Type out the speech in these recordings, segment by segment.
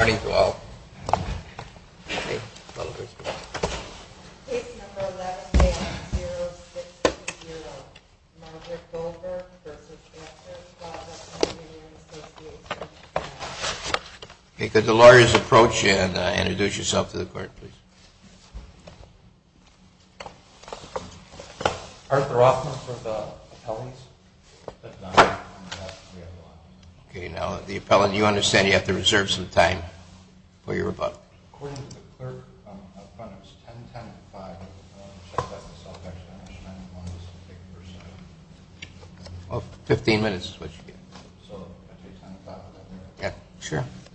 Okay, could the lawyers approach and introduce yourself to the court, please? Arthur Rothman for the appellees. Okay, now the appellant, you understand you have to reserve some time for your rebuttal? According to the clerk up front, it was 10.10 at 5. I want to check that myself actually. I understand it won't take your time. Well, 15 minutes is what you get. So I'll take 10.10 at 5. Yeah, sure. Thank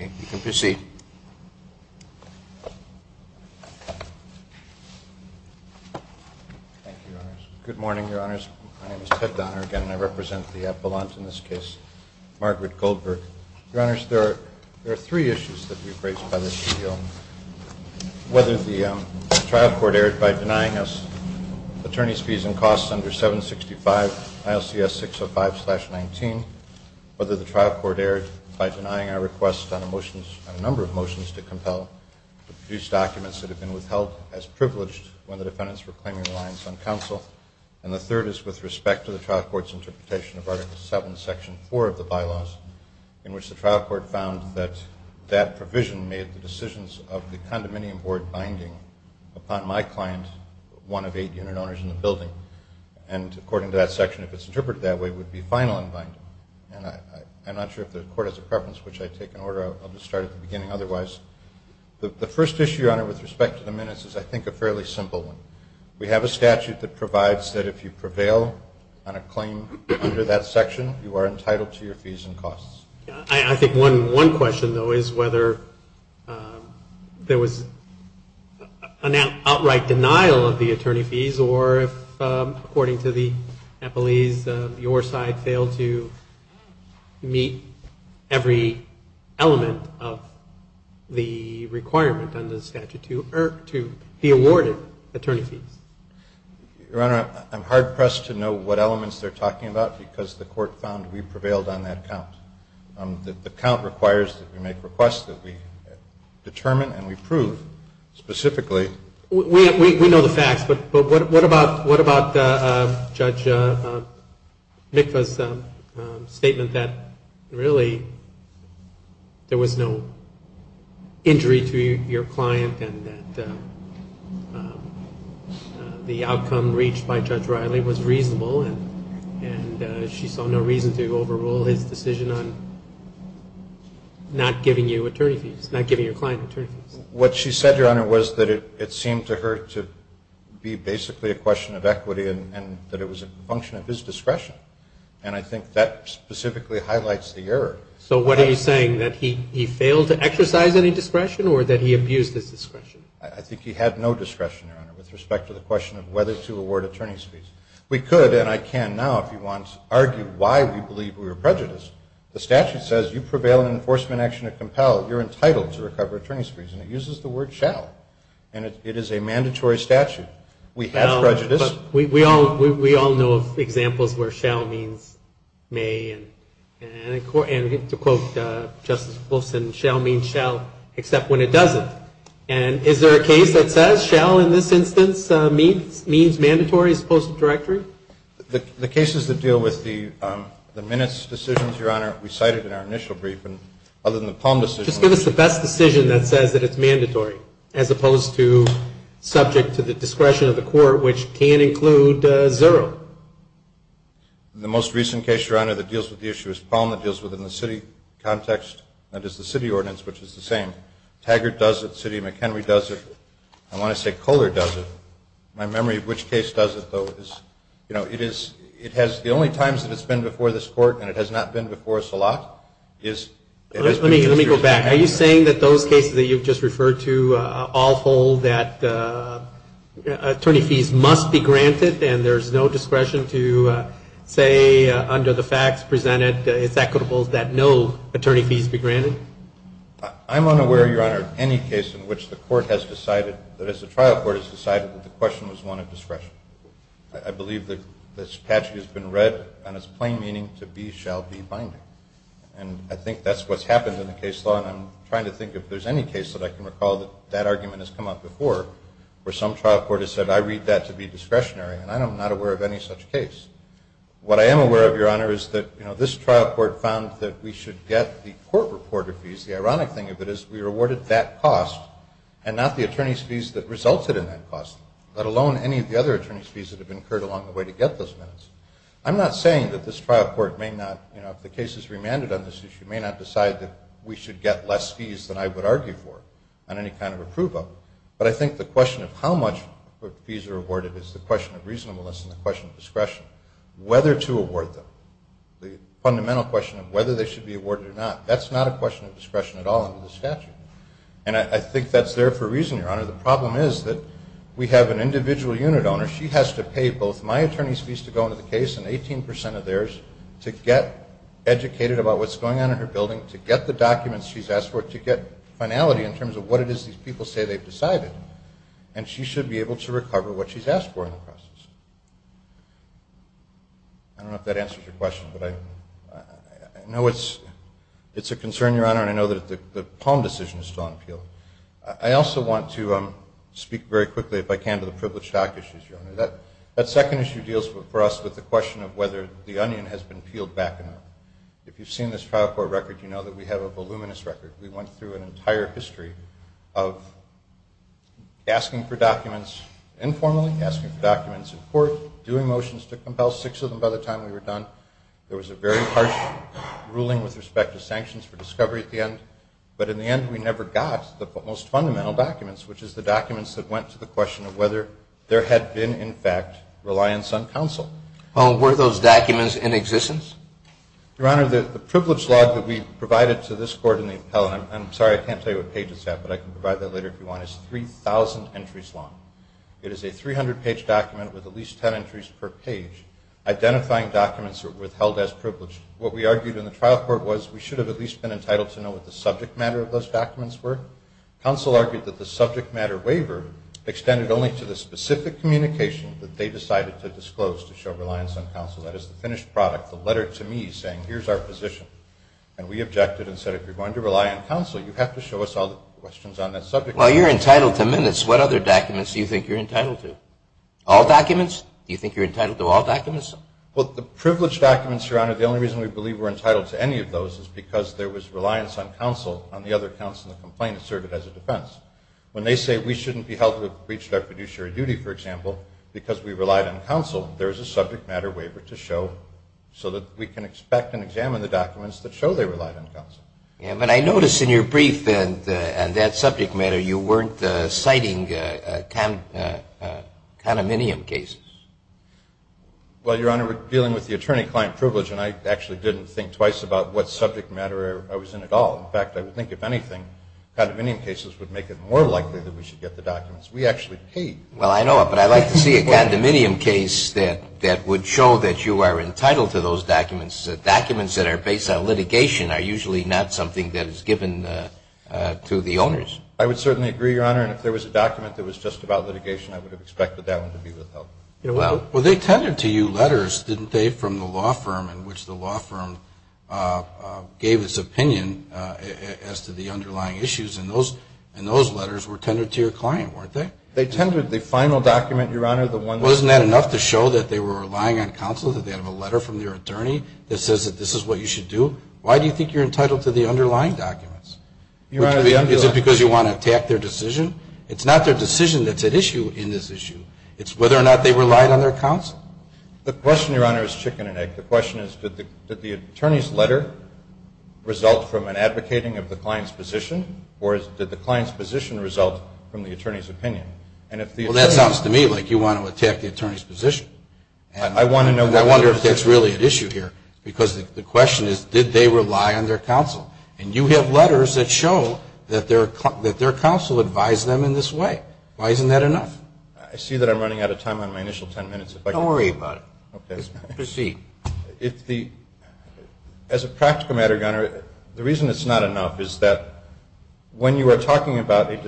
you. Okay, you can proceed. Thank you, Your Honors. Good morning, Your Honors. My name is Ted Donner again, and I represent the appellant in this case, Margaret Goldberg. Your Honors, there are three issues that we have raised by this appeal. Whether the trial court erred by denying us attorney's fees and costs under 765 ILCS 605-19, whether the trial court erred by denying our request on a number of motions to compel to produce documents that have been withheld as privileged when the defendants were claiming reliance on counsel, and the third is with respect to the trial court's interpretation of Article 7, Section 4 of the bylaws, in which the trial court found that that provision made the decisions of the condominium board binding upon my client, one of eight unit owners in the building. And according to that section, if it's interpreted that way, it would be final in binding. And I'm not sure if the court has a preference, which I take in order. I'll just start at the beginning otherwise. The first issue, Your Honor, with respect to the minutes is, I think, a fairly simple one. We have a statute that provides that if you prevail on a claim under that section, you are entitled to your fees and costs. I think one question, though, is whether there was an outright denial of the attorney fees or if, according to the appellees, your side failed to meet every element of the requirement under the statute to be awarded attorney fees. Your Honor, I'm hard-pressed to know what elements they're talking about because the court found we prevailed on that count. The count requires that we make requests that we determine and we prove specifically. We know the facts, but what about Judge Mikva's statement that really there was no injury to your client and that the outcome reached by Judge Riley was reasonable and she saw no reason to overrule his decision on not giving you attorney fees, not giving your client attorney fees? What she said, Your Honor, was that it seemed to her to be basically a question of equity and that it was a function of his discretion, and I think that specifically highlights the error. So what are you saying, that he failed to exercise any discretion or that he abused his discretion? I think he had no discretion, Your Honor, with respect to the question of whether to award attorney fees. We could, and I can now if you want, argue why we believe we were prejudiced. The statute says you prevail in an enforcement action to compel. You're entitled to recover attorney's fees, and it uses the word shall, and it is a mandatory statute. We have prejudice. We all know of examples where shall means may, and to quote Justice Wilson, shall means shall except when it doesn't. And is there a case that says shall in this instance means mandatory as opposed to directory? The cases that deal with the minutes decisions, Your Honor, we cited in our initial brief, and other than the Palm decision. Just give us the best decision that says that it's mandatory as opposed to subject to the discretion of the court, which can include zero. The most recent case, Your Honor, that deals with the issue is Palm. It deals within the city context. That is the city ordinance, which is the same. Taggart does it. City of McHenry does it. I want to say Kohler does it. My memory of which case does it, though, is, you know, it is the only times that it's been before this court, and it has not been before us a lot. Let me go back. Are you saying that those cases that you've just referred to all hold that attorney fees must be granted and there's no discretion to say under the facts presented it's equitable that no attorney fees be granted? I'm unaware, Your Honor, of any case in which the court has decided, that is the trial court has decided that the question was one of discretion. I believe that this statute has been read and its plain meaning to be shall be binding, and I think that's what's happened in the case law, and I'm trying to think if there's any case that I can recall that that argument has come up before where some trial court has said I read that to be discretionary, and I'm not aware of any such case. What I am aware of, Your Honor, is that this trial court found that we should get the court reporter fees. The ironic thing of it is we were awarded that cost and not the attorney's fees that resulted in that cost, let alone any of the other attorney's fees that have been incurred along the way to get those minutes. I'm not saying that this trial court may not, you know, if the case is remanded on this issue, may not decide that we should get less fees than I would argue for on any kind of approval, but I think the question of how much fees are awarded is the question of reasonableness and the question of discretion, whether to award them. The fundamental question of whether they should be awarded or not, that's not a question of discretion at all under the statute, and I think that's there for a reason, Your Honor. The problem is that we have an individual unit owner. She has to pay both my attorney's fees to go into the case and 18% of theirs to get educated about what's going on in her building, to get the documents she's asked for, to get finality in terms of what it is these people say they've decided, and she should be able to recover what she's asked for in the process. I don't know if that answers your question, but I know it's a concern, Your Honor, and I know that the Palm decision is still on appeal. I also want to speak very quickly, if I can, to the privileged stock issue, Your Honor. That second issue deals for us with the question of whether the onion has been peeled back enough. If you've seen this trial court record, you know that we have a voluminous record. We went through an entire history of asking for documents informally, asking for documents in court, doing motions to compel six of them by the time we were done. There was a very harsh ruling with respect to sanctions for discovery at the end, but in the end we never got the most fundamental documents, which is the documents that went to the question of whether there had been, in fact, reliance on counsel. Were those documents in existence? Your Honor, the privileged log that we provided to this court in the appellate, and I'm sorry I can't tell you what page it's at, but I can provide that later if you want, is 3,000 entries long. It is a 300-page document with at least 10 entries per page, identifying documents that were held as privileged. What we argued in the trial court was we should have at least been entitled to know what the subject matter of those documents were. Counsel argued that the subject matter waiver extended only to the specific communication that they decided to disclose to show reliance on counsel, that is the finished product, the letter to me saying here's our position. And we objected and said if you're going to rely on counsel, you have to show us all the questions on that subject matter. While you're entitled to minutes, what other documents do you think you're entitled to? All documents? Do you think you're entitled to all documents? Well, the privileged documents, Your Honor, the only reason we believe we're entitled to any of those is because there was reliance on counsel on the other counts in the complaint that served it as a defense. When they say we shouldn't be held to have breached our fiduciary duty, for example, because we relied on counsel, there's a subject matter waiver to show so that we can expect and examine the documents that show they relied on counsel. Yeah, but I notice in your brief on that subject matter you weren't citing condominium cases. Well, Your Honor, we're dealing with the attorney-client privilege, and I actually didn't think twice about what subject matter I was in at all. In fact, I would think if anything, condominium cases would make it more likely that we should get the documents. We actually paid. Well, I know it, but I'd like to see a condominium case that would show that you are entitled to those documents. Documents that are based on litigation are usually not something that is given to the owners. I would certainly agree, Your Honor, and if there was a document that was just about litigation, I would have expected that one to be withheld. Well, they tended to you letters, didn't they, from the law firm, in which the law firm gave its opinion as to the underlying issues, and those letters were tended to your client, weren't they? They tended to the final document, Your Honor. Wasn't that enough to show that they were relying on counsel, that they have a letter from their attorney that says that this is what you should do? Why do you think you're entitled to the underlying documents? Is it because you want to attack their decision? It's not their decision that's at issue in this issue. It's whether or not they relied on their counsel. The question, Your Honor, is chicken and egg. The question is did the attorney's letter result from an advocating of the client's position, or did the client's position result from the attorney's opinion? Well, that sounds to me like you want to attack the attorney's position. I wonder if that's really at issue here, because the question is did they rely on their counsel? And you have letters that show that their counsel advised them in this way. Why isn't that enough? I see that I'm running out of time on my initial ten minutes. Don't worry about it. Okay. Proceed. As a practical matter, Your Honor, the reason it's not enough is that when you are talking about a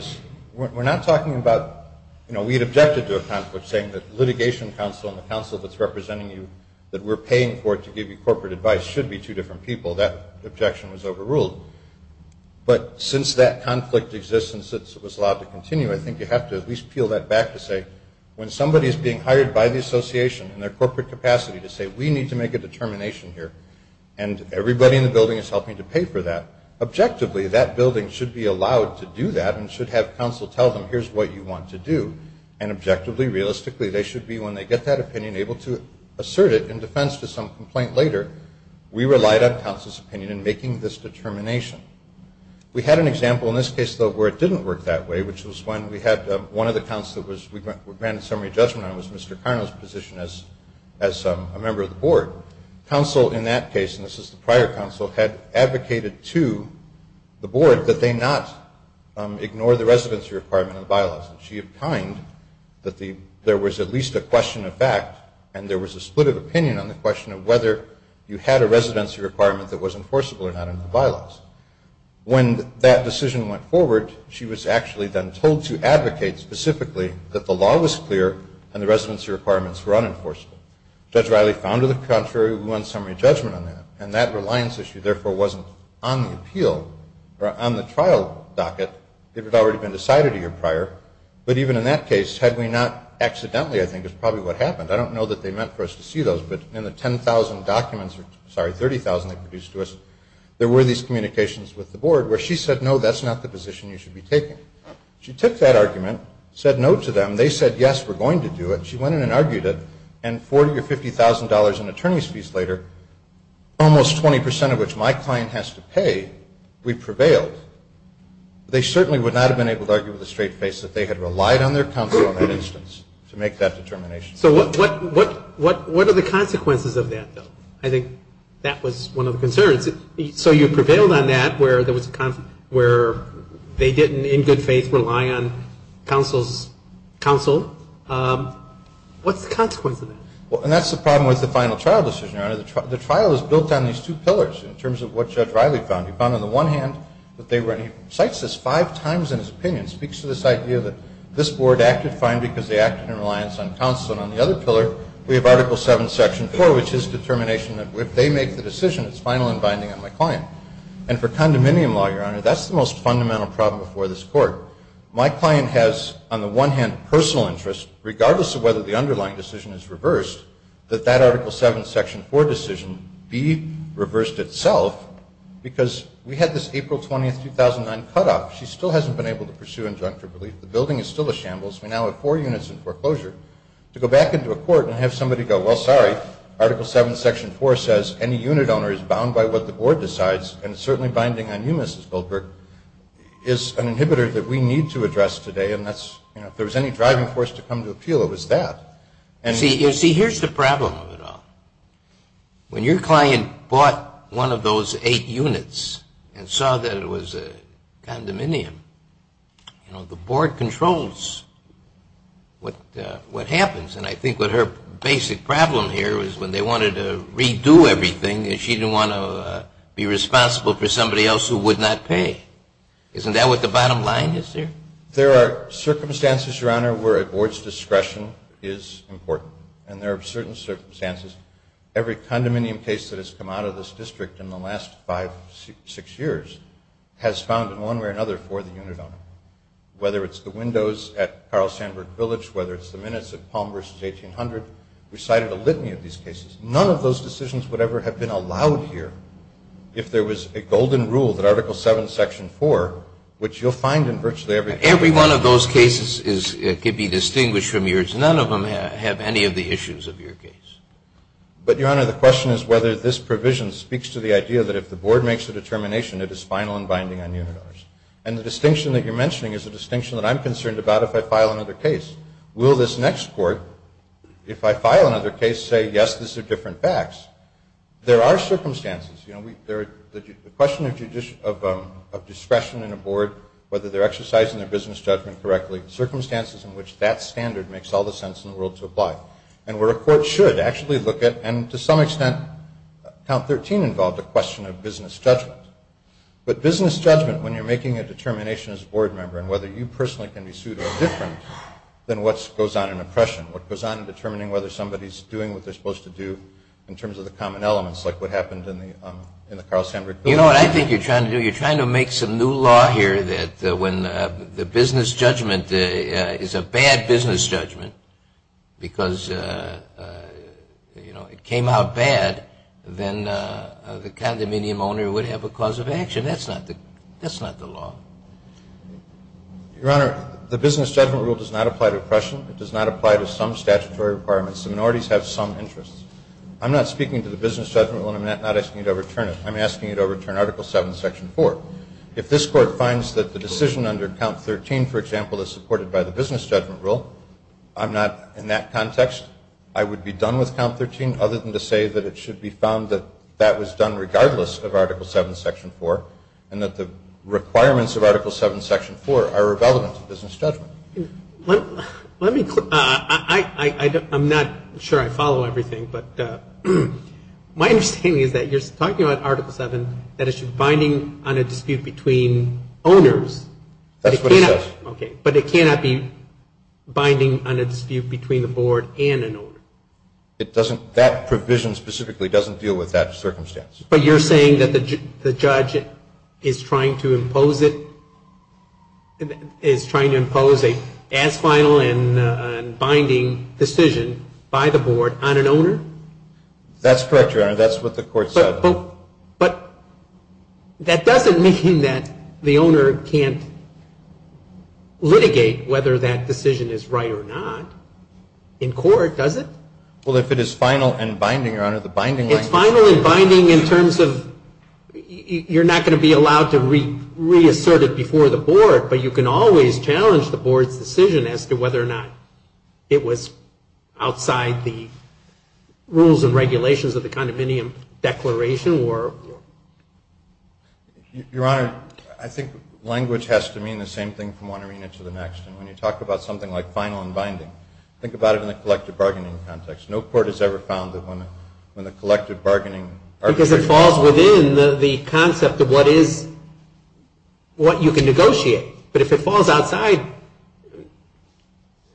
We're not talking about, you know, we had objected to a conflict saying that litigation counsel and the counsel that's representing you that we're paying for to give you corporate advice should be two different people. That objection was overruled. But since that conflict exists and since it was allowed to continue, I think you have to at least peel that back to say when somebody is being hired by the association in their corporate capacity to say we need to make a determination here and everybody in the building is helping to pay for that, objectively that building should be allowed to do that and should have counsel tell them here's what you want to do. And objectively, realistically, they should be, when they get that opinion, able to assert it in defense to some complaint later. We relied on counsel's opinion in making this determination. We had an example in this case, though, where it didn't work that way, which was when we had one of the counsels that we granted summary judgment on was Mr. Carno's position as a member of the board. Counsel in that case, and this is the prior counsel, had advocated to the board that they not ignore the residency requirement in the bylaws. She opined that there was at least a question of fact and there was a split of opinion on the question of whether you had a residency requirement that was enforceable or not in the bylaws. When that decision went forward, she was actually then told to advocate specifically that the law was clear and the residency requirements were unenforceable. Judge Riley found to the contrary, we want summary judgment on that. And that reliance issue, therefore, wasn't on the appeal or on the trial docket. It had already been decided a year prior. But even in that case, had we not accidentally, I think is probably what happened, I don't know that they meant for us to see those, but in the 10,000 documents, sorry, 30,000 they produced to us, there were these communications with the board where she said, no, that's not the position you should be taking. She took that argument, said no to them. They said, yes, we're going to do it. She went in and argued it. And $40,000 or $50,000 in attorney's fees later, almost 20% of which my client has to pay, we prevailed. They certainly would not have been able to argue with a straight face that they had relied on their counsel in that instance to make that determination. So what are the consequences of that, though? I think that was one of the concerns. So you prevailed on that where they didn't, in good faith, rely on counsel's counsel. What's the consequence of that? Well, and that's the problem with the final trial decision, Your Honor. The trial is built on these two pillars in terms of what Judge Riley found. He found on the one hand that they were, and he cites this five times in his opinion, speaks to this idea that this board acted fine because they acted in reliance on counsel. And on the other pillar, we have Article VII, Section 4, which is determination that if they make the decision, it's final and binding on my client. And for condominium law, Your Honor, that's the most fundamental problem before this Court. My client has, on the one hand, personal interest, regardless of whether the underlying decision is reversed, that that Article VII, Section 4 decision be reversed itself because we had this April 20, 2009, cutoff. She still hasn't been able to pursue injunctive relief. The building is still a shambles. We now have four units in foreclosure. To go back into a court and have somebody go, well, sorry, Article VII, Section 4 says any unit owner is bound by what the board decides and it's certainly binding on you, Mrs. Goldberg, is an inhibitor that we need to address today. And if there was any driving force to come to appeal, it was that. See, here's the problem with it all. When your client bought one of those eight units and saw that it was a condominium, you know, the board controls what happens. And I think what her basic problem here is when they wanted to redo everything, she didn't want to be responsible for somebody else who would not pay. Isn't that what the bottom line is here? There are circumstances, Your Honor, where a board's discretion is important. And there are certain circumstances. Every condominium case that has come out of this district in the last five, six years, has found in one way or another for the unit owner. Whether it's the windows at Carl Sandburg Village, whether it's the minutes at Palm versus 1800, we cited a litany of these cases. None of those decisions would ever have been allowed here if there was a golden rule that Article VII, Section 4, which you'll find in virtually every case. Every one of those cases could be distinguished from yours. None of them have any of the issues of your case. But, Your Honor, the question is whether this provision speaks to the idea that if the board makes a determination, it is final and binding on unit owners. And the distinction that you're mentioning is a distinction that I'm concerned about if I file another case. Will this next court, if I file another case, say, yes, these are different facts? There are circumstances. You know, the question of discretion in a board, whether they're exercising their business judgment correctly, circumstances in which that standard makes all the sense in the world to apply, and where a court should actually look at. And to some extent, Count 13 involved a question of business judgment. But business judgment, when you're making a determination as a board member and whether you personally can be sued, are different than what goes on in oppression, what goes on in determining whether somebody's doing what they're supposed to do in terms of the common elements, like what happened in the Carl Sandburg Village. You know what I think you're trying to do? You're trying to make sure that when the business judgment is a bad business judgment, because, you know, it came out bad, then the condominium owner would have a cause of action. That's not the law. Your Honor, the business judgment rule does not apply to oppression. It does not apply to some statutory requirements. The minorities have some interests. I'm not speaking to the business judgment rule, and I'm not asking you to overturn it. I'm asking you to overturn Article 7, Section 4. If this Court finds that the decision under Count 13, for example, is supported by the business judgment rule, I'm not in that context. I would be done with Count 13 other than to say that it should be found that that was done regardless of Article 7, Section 4, and that the requirements of Article 7, Section 4 are irrelevant to business judgment. Let me clear. I'm not sure I follow everything, but my understanding is that you're talking about Article 7, that it should be binding on a dispute between owners. That's what it says. Okay. But it cannot be binding on a dispute between the board and an owner. That provision specifically doesn't deal with that circumstance. But you're saying that the judge is trying to impose a as final and binding decision by the board on an owner? That's correct, Your Honor. That's what the Court said. But that doesn't mean that the owner can't litigate whether that decision is right or not. In court, does it? Well, if it is final and binding, Your Honor. It's final and binding in terms of you're not going to be allowed to reassert it before the board, but you can always challenge the board's decision as to whether or not it was outside the rules and regulations of the condominium declaration. Your Honor, I think language has to mean the same thing from one arena to the next. And when you talk about something like final and binding, think about it in the collective bargaining context. No court has ever found that when the collective bargaining. Because it falls within the concept of what you can negotiate. But if it falls outside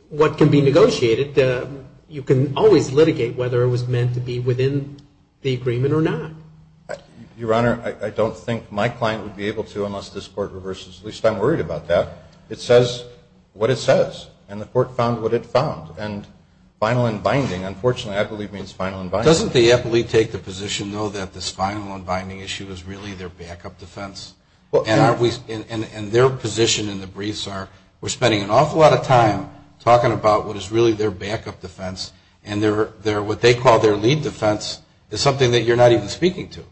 what can be negotiated, you can always litigate whether it was meant to be within the agreement or not. Your Honor, I don't think my client would be able to unless this Court reverses. At least I'm worried about that. It says what it says. And the Court found what it found. And final and binding, unfortunately, I believe means final and binding. Doesn't the appellee take the position, though, that this final and binding issue is really their backup defense? And their position in the briefs are we're spending an awful lot of time talking about what is really their backup defense. And what they call their lead defense is something that you're not even speaking to.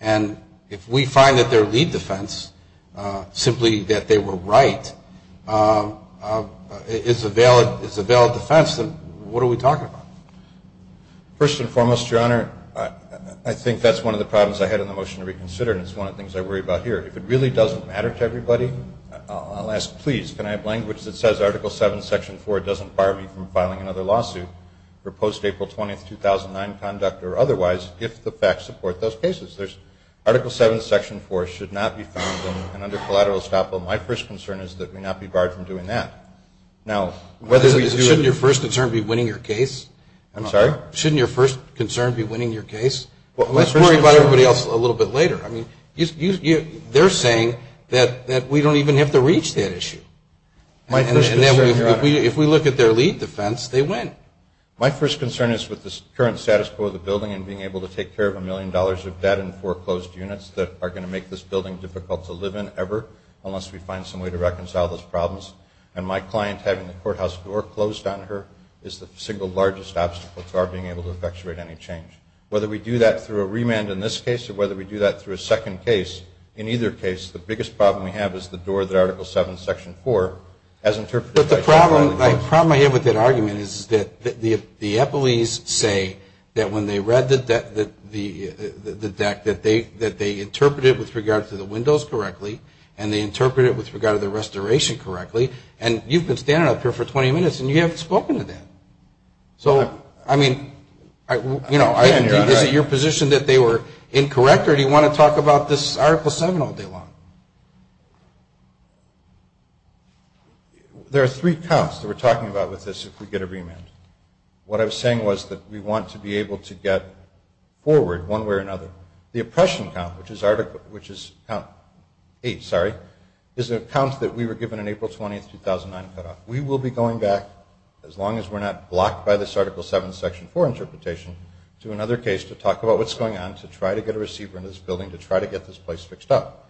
And if we find that their lead defense, simply that they were right, is a valid defense, then what are we talking about? First and foremost, Your Honor, I think that's one of the problems I had in the motion to reconsider, and it's one of the things I worry about here. If it really doesn't matter to everybody, I'll ask, please, can I have language that says Article 7, Section 4 doesn't bar me from filing another lawsuit for post-April 20, 2009 conduct or otherwise if the facts support those cases? Article 7, Section 4 should not be found under collateral estoppel. My first concern is that we not be barred from doing that. Shouldn't your first concern be winning your case? I'm sorry? Shouldn't your first concern be winning your case? Let's worry about everybody else a little bit later. I mean, they're saying that we don't even have to reach that issue. And if we look at their lead defense, they win. My first concern is with the current status quo of the building and being able to take care of a million dollars of debt and foreclosed units that are going to make this building difficult to live in ever unless we find some way to reconcile those problems. And my client having the courthouse door closed on her is the single largest obstacle to our being able to effectuate any change. Whether we do that through a remand in this case or whether we do that through a second case, in either case the biggest problem we have is the door that Article 7, Section 4 has interpreted. But the problem I have with that argument is that the Eppleys say that when they read the deck that they interpreted it with regard to the windows correctly and they interpreted it with regard to the restoration correctly. And you've been standing up here for 20 minutes and you haven't spoken to them. So, I mean, you know, is it your position that they were incorrect or do you want to talk about this Article 7 all day long? There are three counts that we're talking about with this if we get a remand. What I was saying was that we want to be able to get forward one way or another. The oppression count, which is count 8, sorry, is a count that we were given on April 20, 2009. We will be going back as long as we're not blocked by this Article 7, Section 4 interpretation to another case to talk about what's going on to try to get a receiver into this building to try to get this place fixed up.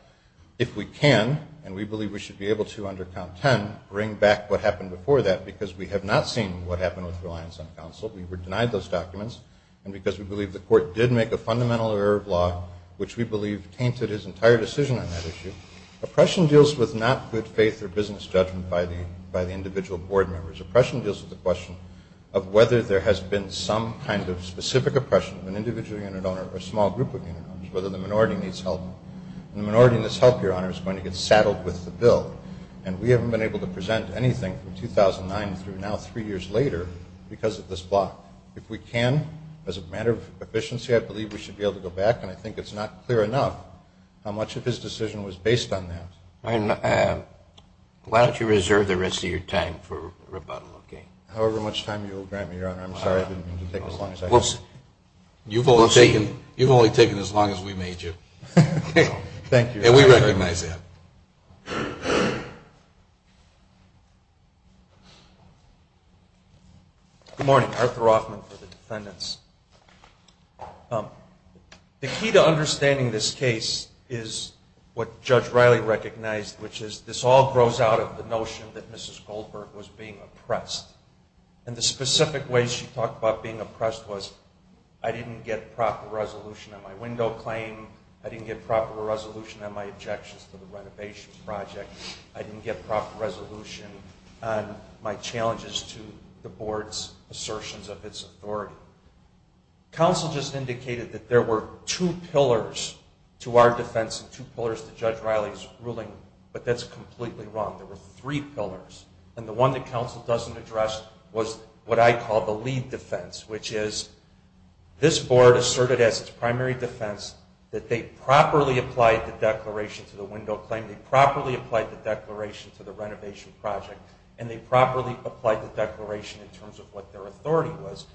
If we can, and we believe we should be able to under count 10, bring back what happened before that because we have not seen what happened with reliance on counsel. We were denied those documents. And because we believe the court did make a fundamental error of law, which we believe tainted his entire decision on that issue. Oppression deals with not good faith or business judgment by the individual board members. Oppression deals with the question of whether there has been some kind of specific oppression of an individual unit owner or small group of unit owners, whether the minority needs help. And the minority that needs help, Your Honor, is going to get saddled with the bill. And we haven't been able to present anything from 2009 through now three years later because of this block. If we can, as a matter of efficiency, I believe we should be able to go back. And I think it's not clear enough how much of his decision was based on that. Why don't you reserve the rest of your time for rebuttal, okay? However much time you will grant me, Your Honor. I'm sorry, I didn't mean to take as long as I can. You've only taken as long as we made you. Thank you. And we recognize that. Good morning. I'm Arthur Hoffman for the defendants. The key to understanding this case is what Judge Riley recognized, which is this all grows out of the notion that Mrs. Goldberg was being oppressed. And the specific ways she talked about being oppressed was, I didn't get proper resolution on my window claim, I didn't get proper resolution on my objections to the renovation project, I didn't get proper resolution on my challenges to the board's assertions of its authority. Counsel just indicated that there were two pillars to our defense and two pillars to Judge Riley's ruling, but that's completely wrong. There were three pillars. And the one that counsel doesn't address was what I call the lead defense, which is this board asserted as its primary defense that they properly applied the declaration to the renovation project, and they properly applied the declaration in terms of what their authority was.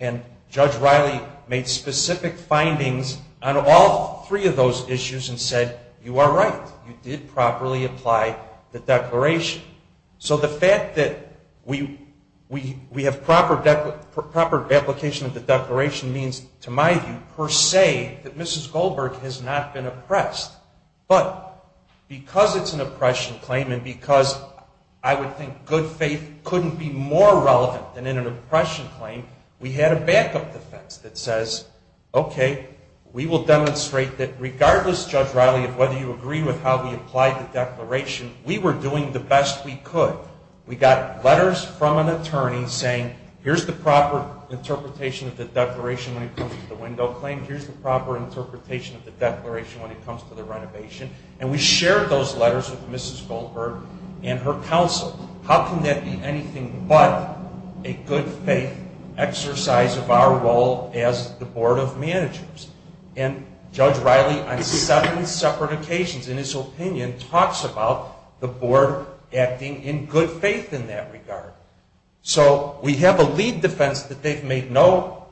And Judge Riley made specific findings on all three of those issues and said, you are right, you did properly apply the declaration. So the fact that we have proper application of the declaration means, to my view, per se, that Mrs. Goldberg has not been oppressed. But because it's an oppression claim and because I would think good faith couldn't be more relevant than in an oppression claim, we had a backup defense that says, okay, we will demonstrate that regardless, Judge Riley, of whether you agree with how we applied the declaration, we were doing the best we could. We got letters from an attorney saying, here's the proper interpretation of the declaration when it comes to the window claim, here's the proper interpretation of the declaration when it comes to the renovation, and we shared those letters with Mrs. Goldberg and her counsel. How can that be anything but a good faith exercise of our role as the board of managers? And Judge Riley, on seven separate occasions in his opinion, talks about the board acting in good faith in that regard. So we have a lead defense that they've made no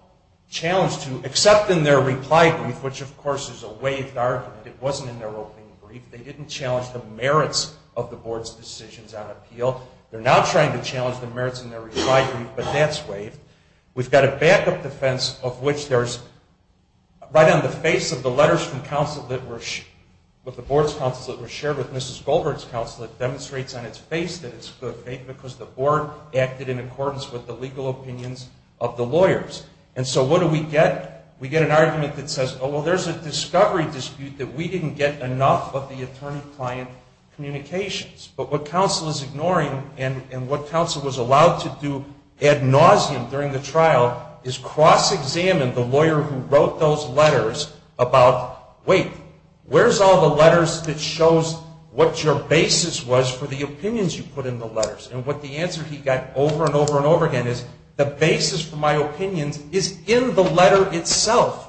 challenge to, except in their reply brief, which, of course, is a waived argument. It wasn't in their opening brief. They didn't challenge the merits of the board's decisions on appeal. They're now trying to challenge the merits in their reply brief, but that's waived. We've got a backup defense of which there's, right on the face of the letters from counsel that were, with the board's counsel that were shared with Mrs. Goldberg's counsel, it demonstrates on its face that it's good faith because the board acted in accordance with the legal opinions of the lawyers. And so what do we get? We get an argument that says, oh, well, there's a discovery dispute that we didn't get enough of the attorney-client communications. But what counsel is ignoring, and what counsel was allowed to do ad nauseum during the trial, is cross-examine the lawyer who wrote those letters about, wait, where's all the letters that shows what your basis was for the opinions you put in the letters? And what the answer he got over and over and over again is, the basis for my opinions is in the letter itself.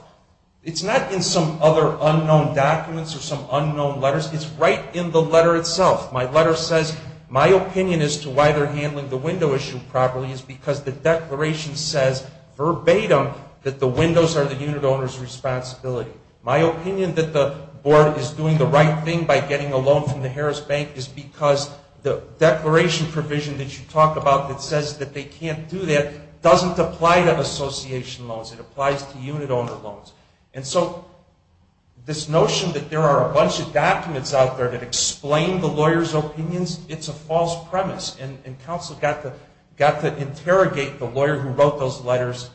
It's not in some other unknown documents or some unknown letters. It's right in the letter itself. My letter says my opinion as to why they're handling the window issue properly is because the declaration says verbatim that the windows are the unit owner's responsibility. My opinion that the board is doing the right thing by getting a loan from the Harris Bank is because the declaration provision that you talk about that says that they can't do that doesn't apply to association loans. It applies to unit owner loans. And so this notion that there are a bunch of documents out there that explain the lawyers' opinions, it's a false premise. And counsel got to interrogate the lawyer who wrote those letters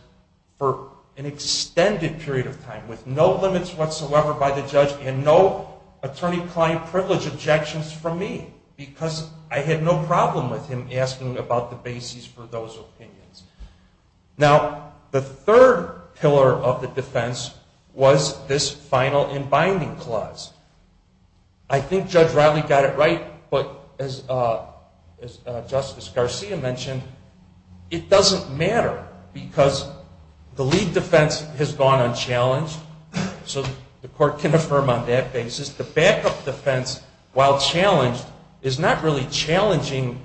for an extended period of time with no limits whatsoever by the judge and no attorney-client privilege objections from me because I had no problem with him asking about the basis for those opinions. Now, the third pillar of the defense was this final and binding clause. I think Judge Riley got it right, but as Justice Garcia mentioned, it doesn't matter because the lead defense has gone unchallenged. So the court can affirm on that basis. The backup defense, while challenged, is not really challenging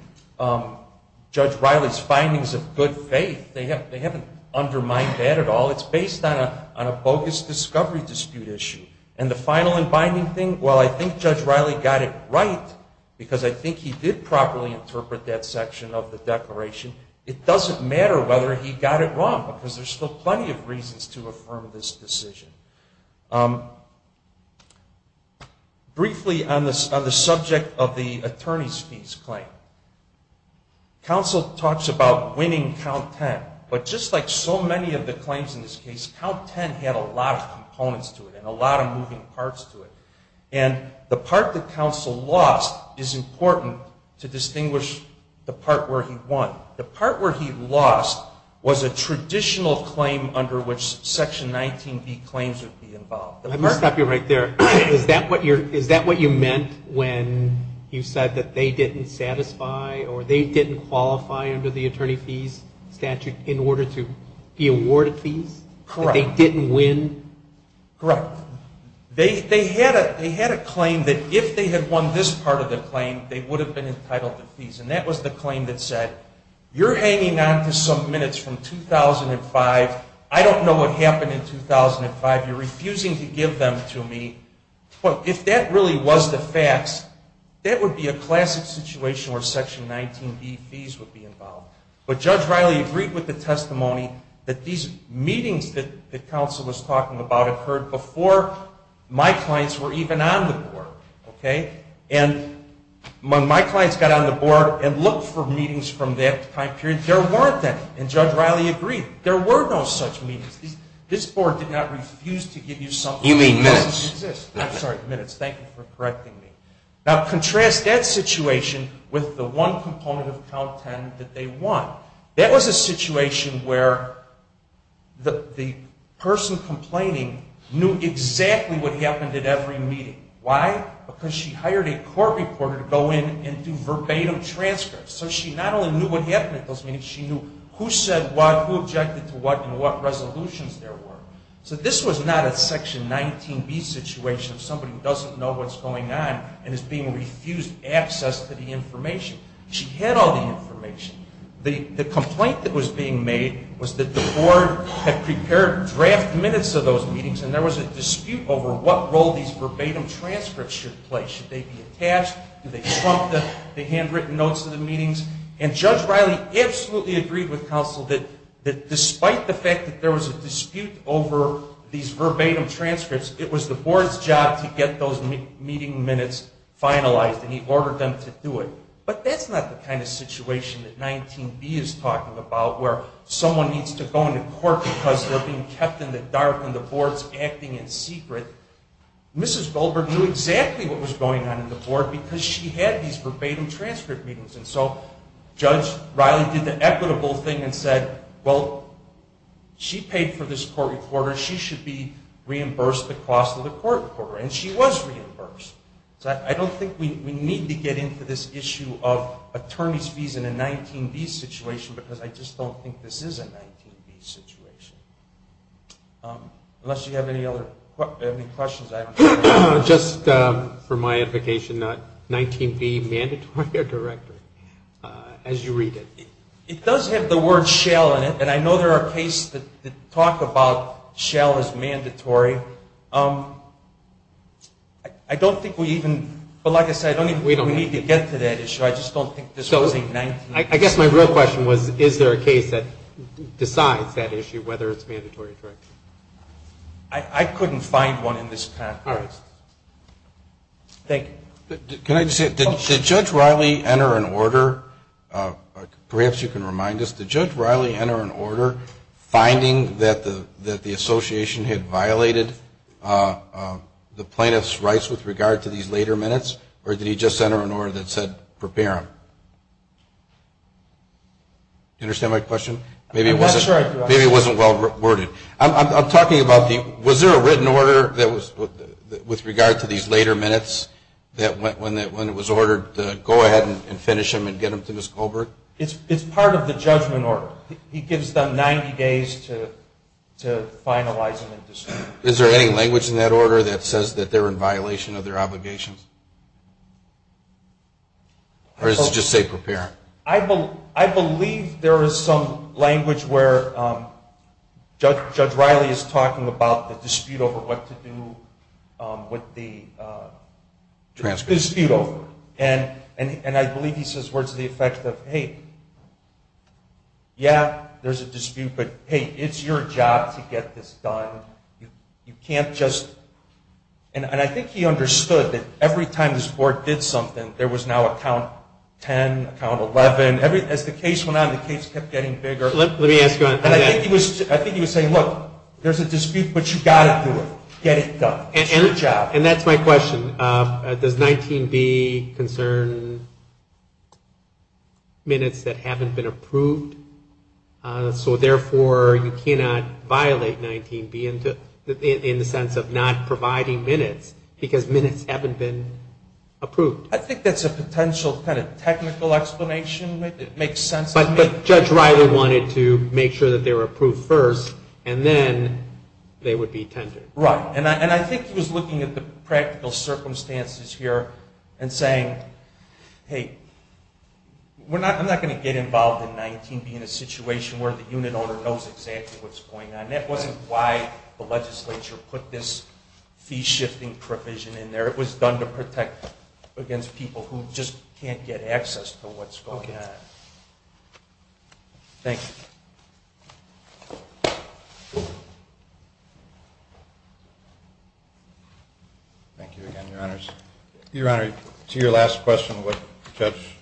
Judge Riley's findings of good faith. They haven't undermined that at all. It's based on a bogus discovery dispute issue. And the final and binding thing, well, I think Judge Riley got it right because I think he did properly interpret that section of the declaration. It doesn't matter whether he got it wrong because there's still plenty of reasons to affirm this decision. Briefly on the subject of the attorney's fees claim. Counsel talks about winning count 10, but just like so many of the claims in this case, count 10 had a lot of components to it and a lot of moving parts to it. And the part that counsel lost is important to distinguish the part where he won. The part where he lost was a traditional claim under which Section 19B claims would be involved. Let me stop you right there. Is that what you meant when you said that they didn't satisfy or they didn't qualify under the attorney fees statute in order to be awarded fees? Correct. That they didn't win? Correct. They had a claim that if they had won this part of the claim, they would have been entitled to fees. And that was the claim that said, you're hanging on to some minutes from 2005. I don't know what happened in 2005. You're refusing to give them to me. If that really was the facts, that would be a classic situation where Section 19B fees would be involved. But Judge Riley agreed with the testimony that these meetings that counsel was talking about occurred before my clients were even on the Board. And when my clients got on the Board and looked for meetings from that time period, there weren't any. And Judge Riley agreed. There were no such meetings. This Board did not refuse to give you something. You mean minutes. I'm sorry, minutes. Thank you for correcting me. Now, contrast that situation with the one component of Count 10 that they won. That was a situation where the person complaining knew exactly what happened at every meeting. Why? Because she hired a court reporter to go in and do verbatim transcripts. So she not only knew what happened at those meetings, she knew who said what, who objected to what, and what resolutions there were. So this was not a Section 19B situation of somebody who doesn't know what's going on and is being refused access to the information. She had all the information. The complaint that was being made was that the Board had prepared draft minutes of those meetings, and there was a dispute over what role these verbatim transcripts should play. Should they be attached? Do they trump the handwritten notes of the meetings? And Judge Riley absolutely agreed with counsel that despite the fact that there was a dispute over these verbatim transcripts, it was the Board's job to get those meeting minutes finalized, and he ordered them to do it. But that's not the kind of situation that 19B is talking about where someone needs to go into court because they're being kept in the dark and the Board's acting in secret. Mrs. Goldberg knew exactly what was going on in the Board because she had these verbatim transcript meetings. And so Judge Riley did the equitable thing and said, well, she paid for this court reporter. She should be reimbursed the cost of the court reporter, and she was reimbursed. So I don't think we need to get into this issue of attorney's fees in a 19B situation because I just don't think this is a 19B situation. Unless you have any other questions, I don't know. Just for my education, 19B, mandatory or directory, as you read it? It does have the word shell in it, and I know there are cases that talk about shell as mandatory. I don't think we even, but like I said, we don't need to get to that issue. I just don't think this was a 19B. I guess my real question was, is there a case that decides that issue, whether it's mandatory or directory? I couldn't find one in this paper. All right. Thank you. Can I just say, did Judge Riley enter an order, perhaps you can remind us, did Judge Riley enter an order finding that the association had violated the plaintiff's rights with regard to these later minutes, or did he just enter an order that said prepare them? Do you understand my question? Maybe it wasn't well-worded. I'm talking about, was there a written order with regard to these later minutes when it was ordered to go ahead and finish them and get them to Ms. Colbert? It's part of the judgment order. He gives them 90 days to finalize them and distribute them. Is there any language in that order that says that they're in violation of their obligations? Or does it just say prepare? I believe there is some language where Judge Riley is talking about the dispute over what to do with the dispute. And I believe he says words to the effect of, hey, yeah, there's a dispute, but hey, it's your job to get this done. You can't just, and I think he understood that every time this board did something, there was now a count 10, a count 11. As the case went on, the case kept getting bigger. Let me ask you that. I think he was saying, look, there's a dispute, but you've got to do it. Get it done. It's your job. And that's my question. Does 19B concern minutes that haven't been approved? So, therefore, you cannot violate 19B in the sense of not providing minutes because minutes haven't been approved. I think that's a potential kind of technical explanation. It makes sense to me. But Judge Riley wanted to make sure that they were approved first, and then they would be tendered. Right. And I think he was looking at the practical circumstances here and saying, hey, I'm not going to get involved in 19B in a situation where the unit owner knows exactly what's going on. That wasn't why the legislature put this fee-shifting provision in there. It was done to protect against people who just can't get access to what's going on. Thank you. Thank you again, Your Honors. Your Honor, to your last question, what Judge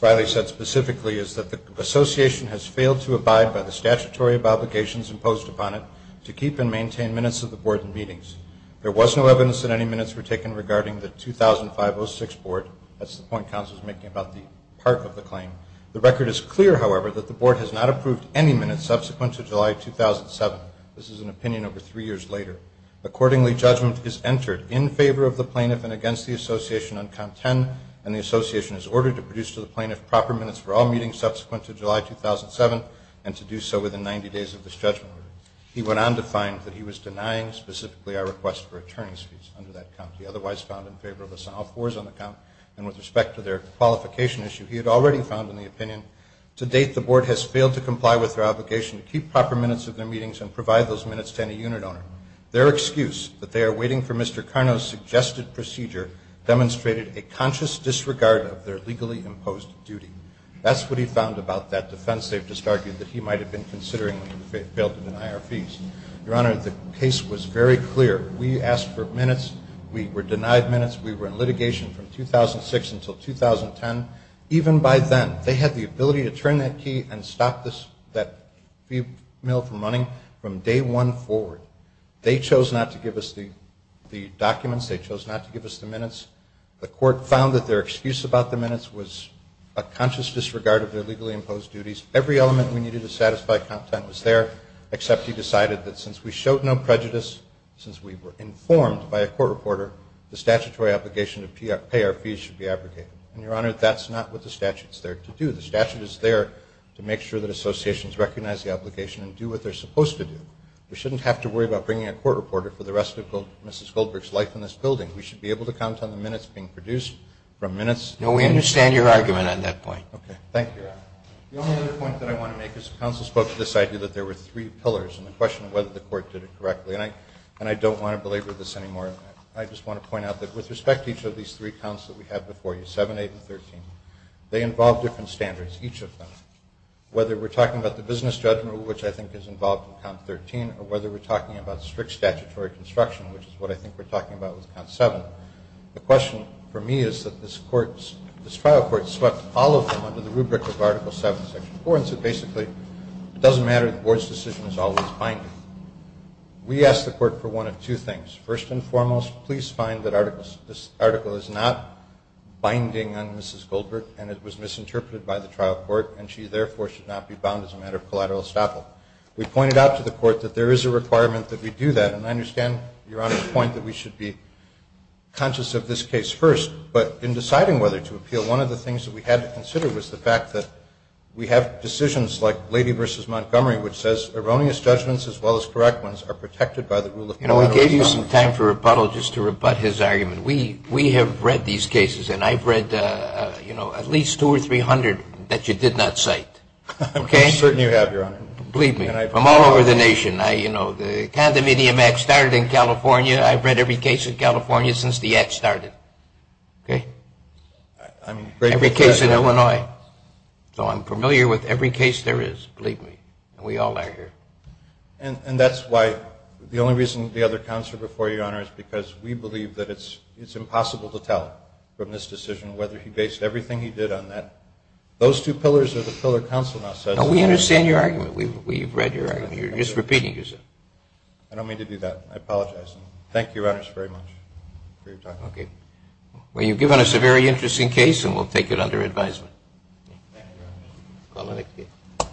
Riley said specifically is that the association has failed to abide by the statutory obligations imposed upon it to keep and maintain minutes of the board in meetings. There was no evidence that any minutes were taken regarding the 2005-06 board. That's the point counsel is making about the part of the claim. The record is clear, however, that the board has not approved any minutes subsequent to July 2007. This is an opinion over three years later. Accordingly, judgment is entered in favor of the plaintiff and against the association on count 10, and the association is ordered to produce to the plaintiff proper minutes for all meetings subsequent to July 2007 and to do so within 90 days of this judgment. He went on to find that he was denying specifically our request for attorney's fees under that count. He otherwise found in favor of us on all fours on the count, and with respect to their qualification issue, he had already found in the opinion. To date, the board has failed to comply with their obligation to keep proper minutes of their meetings and provide those minutes to any unit owner. Their excuse that they are waiting for Mr. Karno's suggested procedure demonstrated a conscious disregard of their legally imposed duty. That's what he found about that defense. They've just argued that he might have been considering we failed to deny our fees. Your Honor, the case was very clear. We asked for minutes. We were denied minutes. We were in litigation from 2006 until 2010. Even by then, they had the ability to turn that key and stop that female from running from day one forward. They chose not to give us the documents. They chose not to give us the minutes. The court found that their excuse about the minutes was a conscious disregard of their legally imposed duties. Every element we needed to satisfy content was there, except he decided that since we showed no prejudice, since we were informed by a court reporter, the statutory obligation to pay our fees should be abrogated. And, Your Honor, that's not what the statute is there to do. The statute is there to make sure that associations recognize the obligation and do what they're supposed to do. We shouldn't have to worry about bringing a court reporter for the rest of Mrs. Goldberg's life in this building. We should be able to count on the minutes being produced from minutes. No, we understand your argument on that point. Okay. Thank you, Your Honor. The only other point that I want to make is the counsel spoke to this idea that there were three pillars and the question of whether the court did it correctly. And I don't want to belabor this anymore. I just want to point out that with respect to each of these three counts that we have before you, 7, 8, and 13, they involve different standards, each of them, whether we're talking about the business judgment, which I think is involved in Count 13, or whether we're talking about strict statutory construction, which is what I think we're talking about with Count 7. The question for me is that this trial court swept all of them under the rubric of Article 7, Section 4, and so basically it doesn't matter. The board's decision is always binding. We asked the court for one of two things. First and foremost, please find that this article is not binding on Mrs. Goldberg and it was misinterpreted by the trial court, and she, therefore, should not be bound as a matter of collateral estoppel. We pointed out to the court that there is a requirement that we do that, and I understand Your Honor's point that we should be conscious of this case first. But in deciding whether to appeal, one of the things that we had to consider was the fact that we have decisions like Lady v. Montgomery, which says erroneous judgments, as well as correct ones, You know, I gave you some time for Repuddle just to rebut his argument. We have read these cases, and I've read, you know, at least 200 or 300 that you did not cite. I'm certain you have, Your Honor. Believe me. From all over the nation. You know, the condominium act started in California. I've read every case in California since the act started. Okay? Every case in Illinois. So I'm familiar with every case there is. Believe me. We all are here. And that's why the only reason the other counselor before you, Your Honor, is because we believe that it's impossible to tell from this decision whether he based everything he did on that. Those two pillars are the pillar counsel now says. No, we understand your argument. We've read your argument. You're just repeating yourself. I don't mean to do that. I apologize. Thank you, Your Honor, very much for your time. Okay. Well, you've given us a very interesting case, and we'll take it under advisement. Thank you, Your Honor. Call the next case.